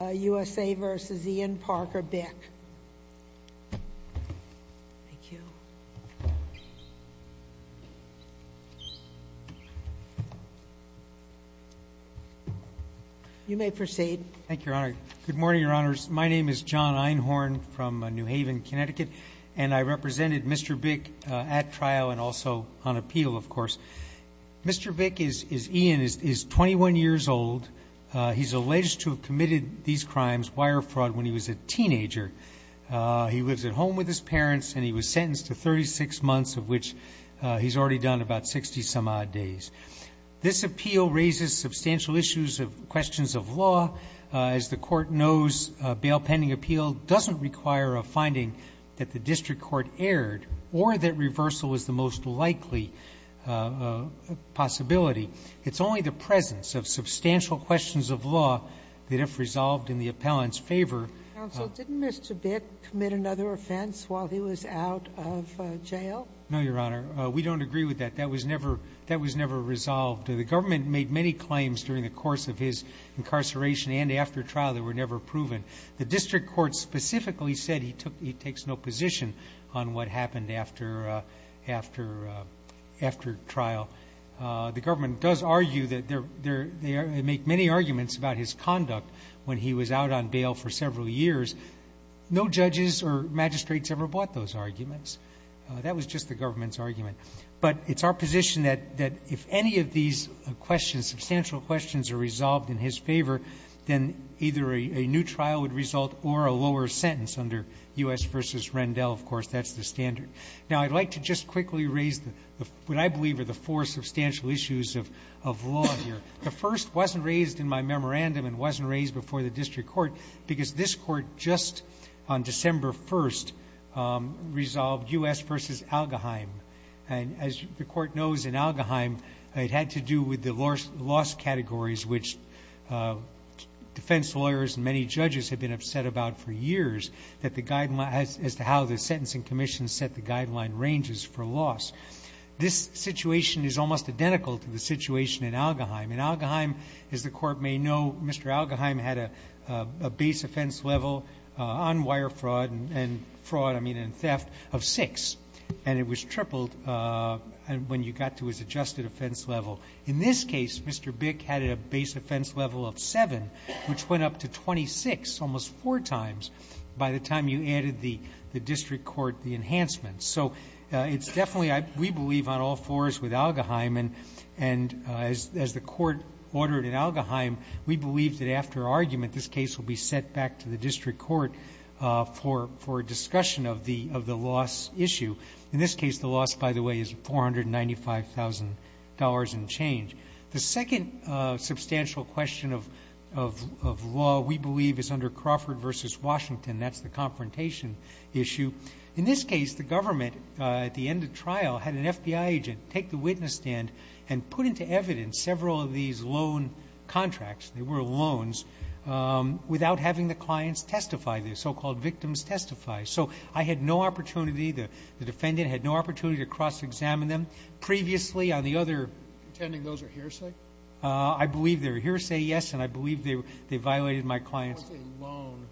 Thank you. You may proceed. Thank you, Your Honor. Good morning, Your Honors. My name is John Einhorn from New Haven, Connecticut, and I represented Mr. Bick at trial and also on appeal, of course. Mr. Bick, Ian, is 21 years old. He's alleged to have committed these crimes, wire fraud, when he was a teenager. He lives at home with his parents, and he was sentenced to 36 months, of which he's already done about 60-some-odd days. This appeal raises substantial issues of questions of law. As the Court knows, a bail pending appeal doesn't require a finding that the district court erred or that reversal is the most likely possibility. It's only the presence of substantial questions of law that, if resolved in the appellant's favor Counsel, didn't Mr. Bick commit another offense while he was out of jail? No, Your Honor. We don't agree with that. That was never resolved. The government made many claims during the course of his incarceration and after trial that were never proven. The district court specifically said he takes no position on what happened after trial. The government does argue that they make many arguments about his conduct when he was out on bail for several years. No judges or magistrates ever bought those arguments. That was just the government's argument. But it's our position that if any of these questions, substantial questions, are resolved in his favor, then either a new trial would result or a lower sentence under U.S. v. Rendell, of course. That's the standard. Now, I'd like to just quickly raise what I believe are the four substantial issues of law here. The first wasn't raised in my memorandum and wasn't raised before the district court because this court just on December 1st resolved U.S. v. Algeheim. As the court knows, in Algeheim, it had to do with the loss categories, which defense lawyers and many judges have been upset about for years, as to how the sentencing commission set the guideline ranges for loss. This situation is almost identical to the situation in Algeheim. In Algeheim, as the court may know, Mr. Algeheim had a base offense level on wire fraud and theft of six. And it was tripled when you got to his adjusted offense level. In this case, Mr. Bick had a base offense level of seven, which went up to 26 almost four times by the time you added the district court enhancements. So it's definitely, we believe, on all fours with Algeheim. And as the court ordered in Algeheim, we believe that after argument, this case will be sent back to the district court for discussion of the loss issue. In this case, the loss, by the way, is $495,000 and change. The second substantial question of law, we believe, is under Crawford v. Washington. That's the confrontation issue. In this case, the government, at the end of trial, had an FBI agent take the witness stand and put into evidence several of these loan contracts, they were loans, without having the clients testify, the so-called victims testify. So I had no opportunity, the defendant had no opportunity to cross-examine them. Previously, on the other... Pretending those are hearsay? I believe they're hearsay, yes, and I believe they violated my client's... What's a loan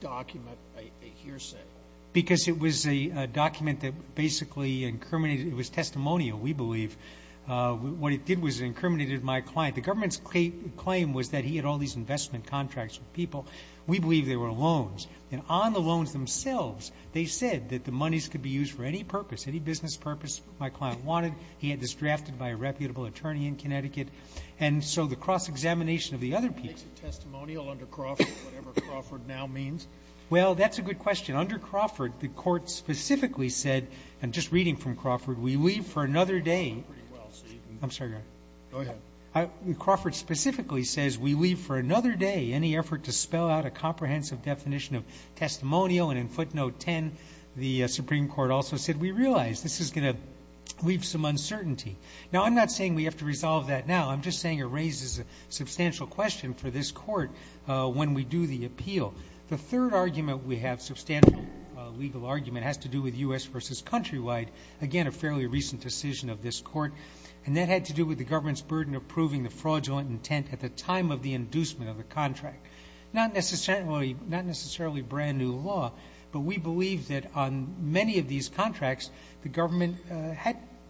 document, a hearsay? Because it was a document that basically incriminated, it was testimonial, we believe. What it did was it incriminated my client. The government's claim was that he had all these investment contracts with people. We believe they were loans. And on the loans themselves, they said that the monies could be used for any purpose, any business purpose my client wanted. He had this drafted by a reputable attorney in Connecticut. And so the cross-examination of the other people... Makes it testimonial under Crawford, whatever Crawford now means? Well, that's a good question. Under Crawford, the court specifically said, and just reading from Crawford, we leave for another day... You're doing pretty well, so you can... I'm sorry, Your Honor. Go ahead. Crawford specifically says, we leave for another day any effort to spell out a comprehensive definition of testimonial. And in footnote 10, the Supreme Court also said, we realize this is going to leave some uncertainty. Now, I'm not saying we have to resolve that now. I'm just saying it raises a substantial question for this court when we do the appeal. The third argument we have, substantial legal argument, has to do with U.S. versus countrywide. Again, a fairly recent decision of this court, and that had to do with the government's burden of proving the fraudulent intent at the time of the inducement of the contract. Not necessarily brand-new law, but we believe that on many of these contracts, the government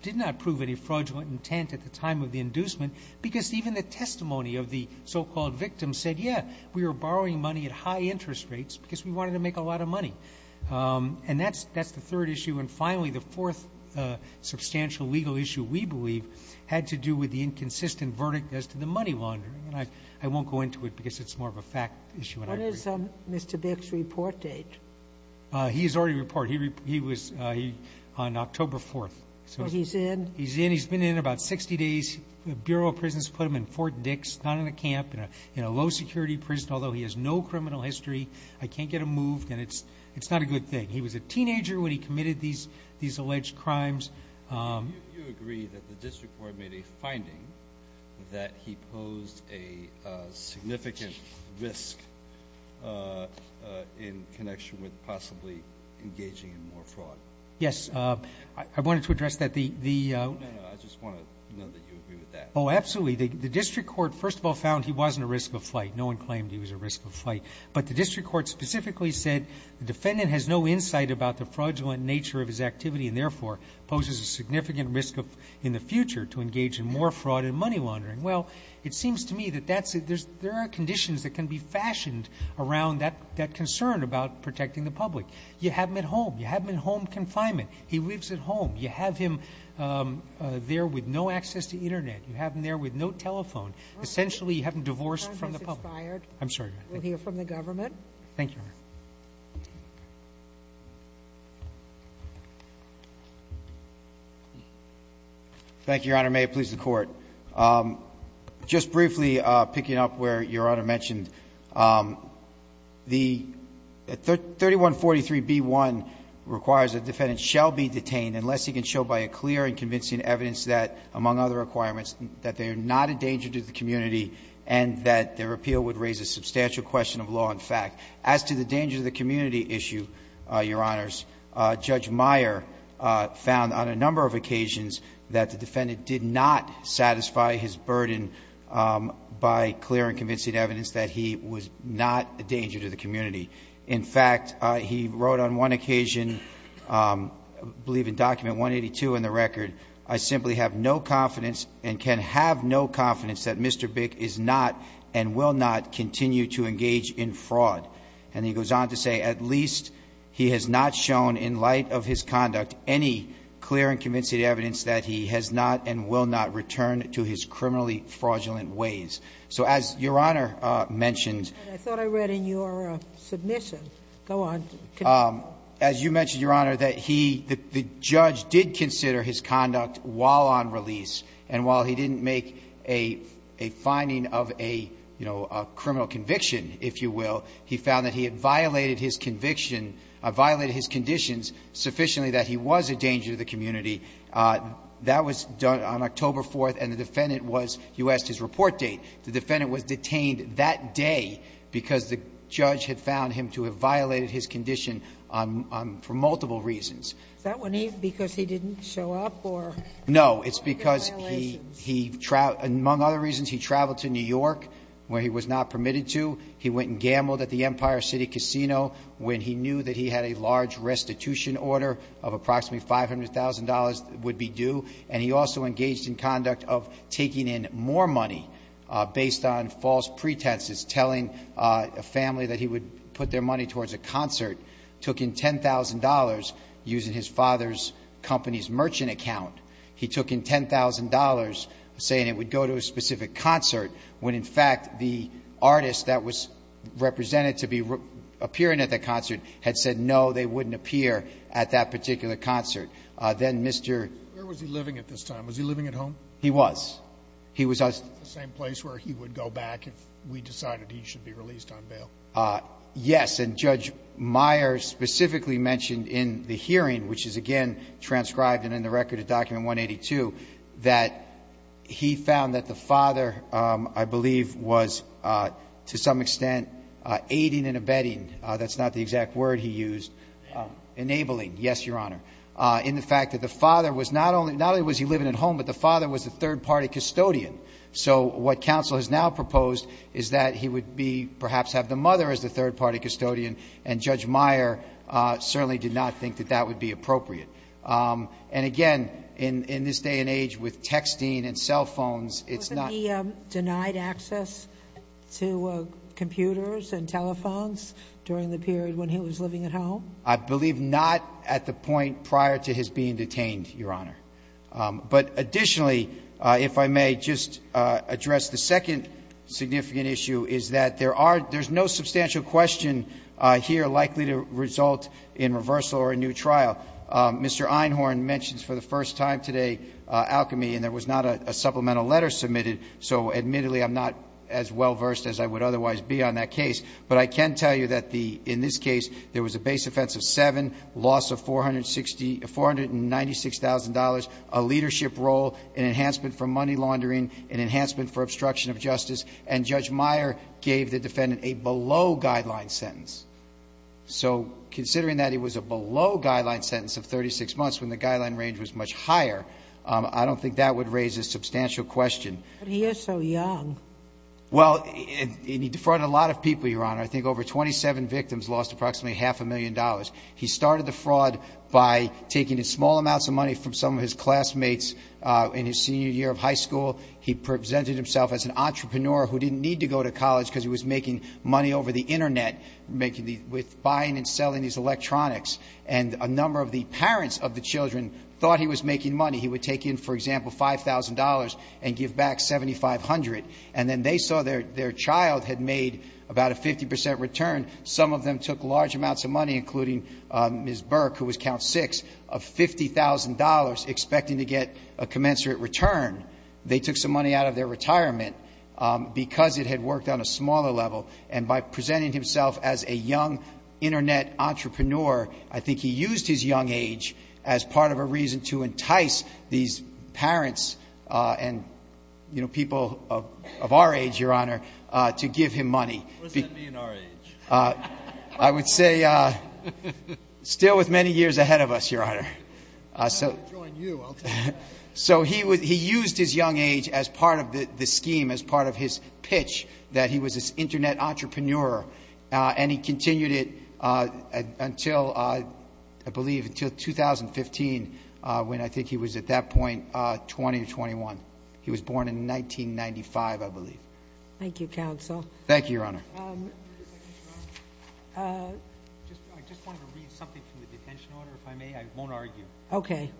did not prove any fraudulent intent at the time of the inducement because even the testimony of the so-called victim said, yeah, we were borrowing money at high interest rates because we wanted to make a lot of money. And that's the third issue. And finally, the fourth substantial legal issue, we believe, had to do with the inconsistent verdict as to the money laundering. I won't go into it because it's more of a fact issue. What is Mr. Bick's report date? He's already reported. He was on October 4th. So he's in? He's in. He's been in about 60 days. The Bureau of Prisons put him in Fort Dix, not in a camp, in a low-security prison, although he has no criminal history. I can't get him moved, and it's not a good thing. He was a teenager when he committed these alleged crimes. Do you agree that the district court made a finding that he posed a significant risk in connection with possibly engaging in more fraud? Yes. I wanted to address that. The the No, no, no. I just want to know that you agree with that. Oh, absolutely. The district court, first of all, found he wasn't a risk of flight. No one claimed he was a risk of flight. But the district court specifically said the defendant has no insight about the significant risk in the future to engage in more fraud and money laundering. Well, it seems to me that there are conditions that can be fashioned around that concern about protecting the public. You have him at home. You have him in home confinement. He lives at home. You have him there with no access to internet. You have him there with no telephone. Essentially, you have him divorced from the public. I'm sorry. We'll hear from the government. Thank you. Thank you, Your Honor. May it please the court. Just briefly picking up where Your Honor mentioned, the 3143B1 requires that the defendant shall be detained unless he can show by a clear and convincing evidence that, among other requirements, that they are not a danger to the community and that their appeal would raise a substantial question of law and fact. As to the danger to the community issue, Your Honors, Judge Meyer found on a number of occasions that the defendant did not satisfy his burden by clear and convincing evidence that he was not a danger to the community. In fact, he wrote on one occasion, I believe in document 182 in the record, I simply have no confidence and can have no confidence that Mr. Bick is not and will not continue to engage in fraud. And he goes on to say, at least he has not shown in light of his conduct any clear and convincing evidence that he has not and will not return to his criminally fraudulent ways. So as Your Honor mentioned as you mentioned, Your Honor, that he, the judge did consider his conduct while on release, and while he didn't make a finding of a, you know, a criminal conviction, if you will, he found that he had violated his conviction and violated his conditions sufficiently that he was a danger to the community. That was done on October 4th, and the defendant was, you asked his report date, the defendant was detained that day because the judge had found him to have violated his condition on, for multiple reasons. Is that when he, because he didn't show up or? No, it's because he, he, among other reasons, he traveled to New York where he was not permitted to. He went and gambled at the Empire City Casino when he knew that he had a large restitution order of approximately $500,000 that would be due. And he also engaged in conduct of taking in more money based on false pretenses, telling a family that he would put their money towards a concert, took in $10,000 using his father's company's merchant account. He took in $10,000 saying it would go to a specific concert when, in fact, the artist that was represented to be appearing at the concert had said, no, they wouldn't appear at that particular concert. Then Mr. Where was he living at this time? Was he living at home? He was. He was at the same place where he would go back if we decided he should be released on bail. Yes. And Judge Meyer specifically mentioned in the hearing, which is, again, transcribed and in the record of Document 182, that he found that the father, I believe, was, to some extent, aiding and abetting, that's not the exact word he used, enabling. Yes, Your Honor. In the fact that the father was not only he living at home, but the father was a third party custodian. So what counsel has now proposed is that he would be, perhaps, have the mother as the third party custodian, and Judge Meyer certainly did not think that that would be appropriate. And, again, in this day and age with texting and cell phones, it's not the same. Did he have access to computers and telephones during the period when he was living at home? I believe not at the point prior to his being detained, Your Honor. But, additionally, if I may just address the second significant issue, is that there are no substantial question here likely to result in reversal or a new trial. Mr. Einhorn mentions for the first time today alchemy, and there was not a supplemental letter submitted, so, admittedly, I'm not as well versed as I would otherwise be on that case. But I can tell you that in this case there was a base offense of seven, loss of $496,000, a leadership role, an enhancement for money laundering, an enhancement for obstruction of justice, and Judge Meyer gave the defendant a below-guideline sentence. So, considering that it was a below-guideline sentence of 36 months when the guideline range was much higher, I don't think that would raise a substantial question. But he is so young. Well, and he defrauded a lot of people, Your Honor. I think over 27 victims lost approximately half a million dollars. He started the fraud by taking small amounts of money from some of his classmates in his senior year of high school. He presented himself as an entrepreneur who didn't need to go to college because he was making money over the Internet, making the – with buying and selling these thought he was making money. He would take in, for example, $5,000 and give back $7,500. And then they saw their child had made about a 50 percent return. Some of them took large amounts of money, including Ms. Burke, who was count six, of $50,000 expecting to get a commensurate return. They took some money out of their retirement because it had worked on a smaller level. And by presenting himself as a young Internet entrepreneur, I think he used his young age as part of a reason to entice these parents and, you know, people of our age, Your Honor, to give him money. What does that mean, our age? I would say still with many years ahead of us, Your Honor. I'm not going to join you. So he used his young age as part of the scheme, as part of his pitch that he was this Internet entrepreneur, and he continued it until, I believe, until 2015, when I think he was at that point 20 or 21. He was born in 1995, I believe. Thank you, counsel. Thank you, Your Honor. I just wanted to read something from the detention order, if I may. I won't argue. Okay.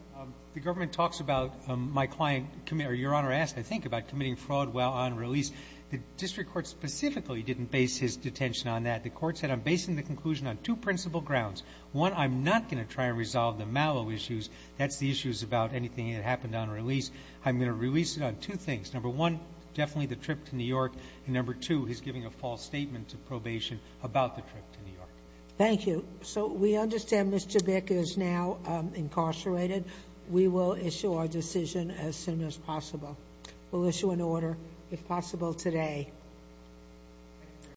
The government talks about my client – or Your Honor asked, I think, about committing fraud while on release. The district court specifically didn't base his detention on that. The court said, I'm basing the conclusion on two principal grounds. One, I'm not going to try and resolve the Mallow issues. That's the issues about anything that happened on release. I'm going to release it on two things. Number one, definitely the trip to New York, and number two, he's giving a false statement to probation about the trip to New York. Thank you. So we understand Mr. Bick is now incarcerated. We will issue our decision as soon as possible. We'll issue an order, if possible, today.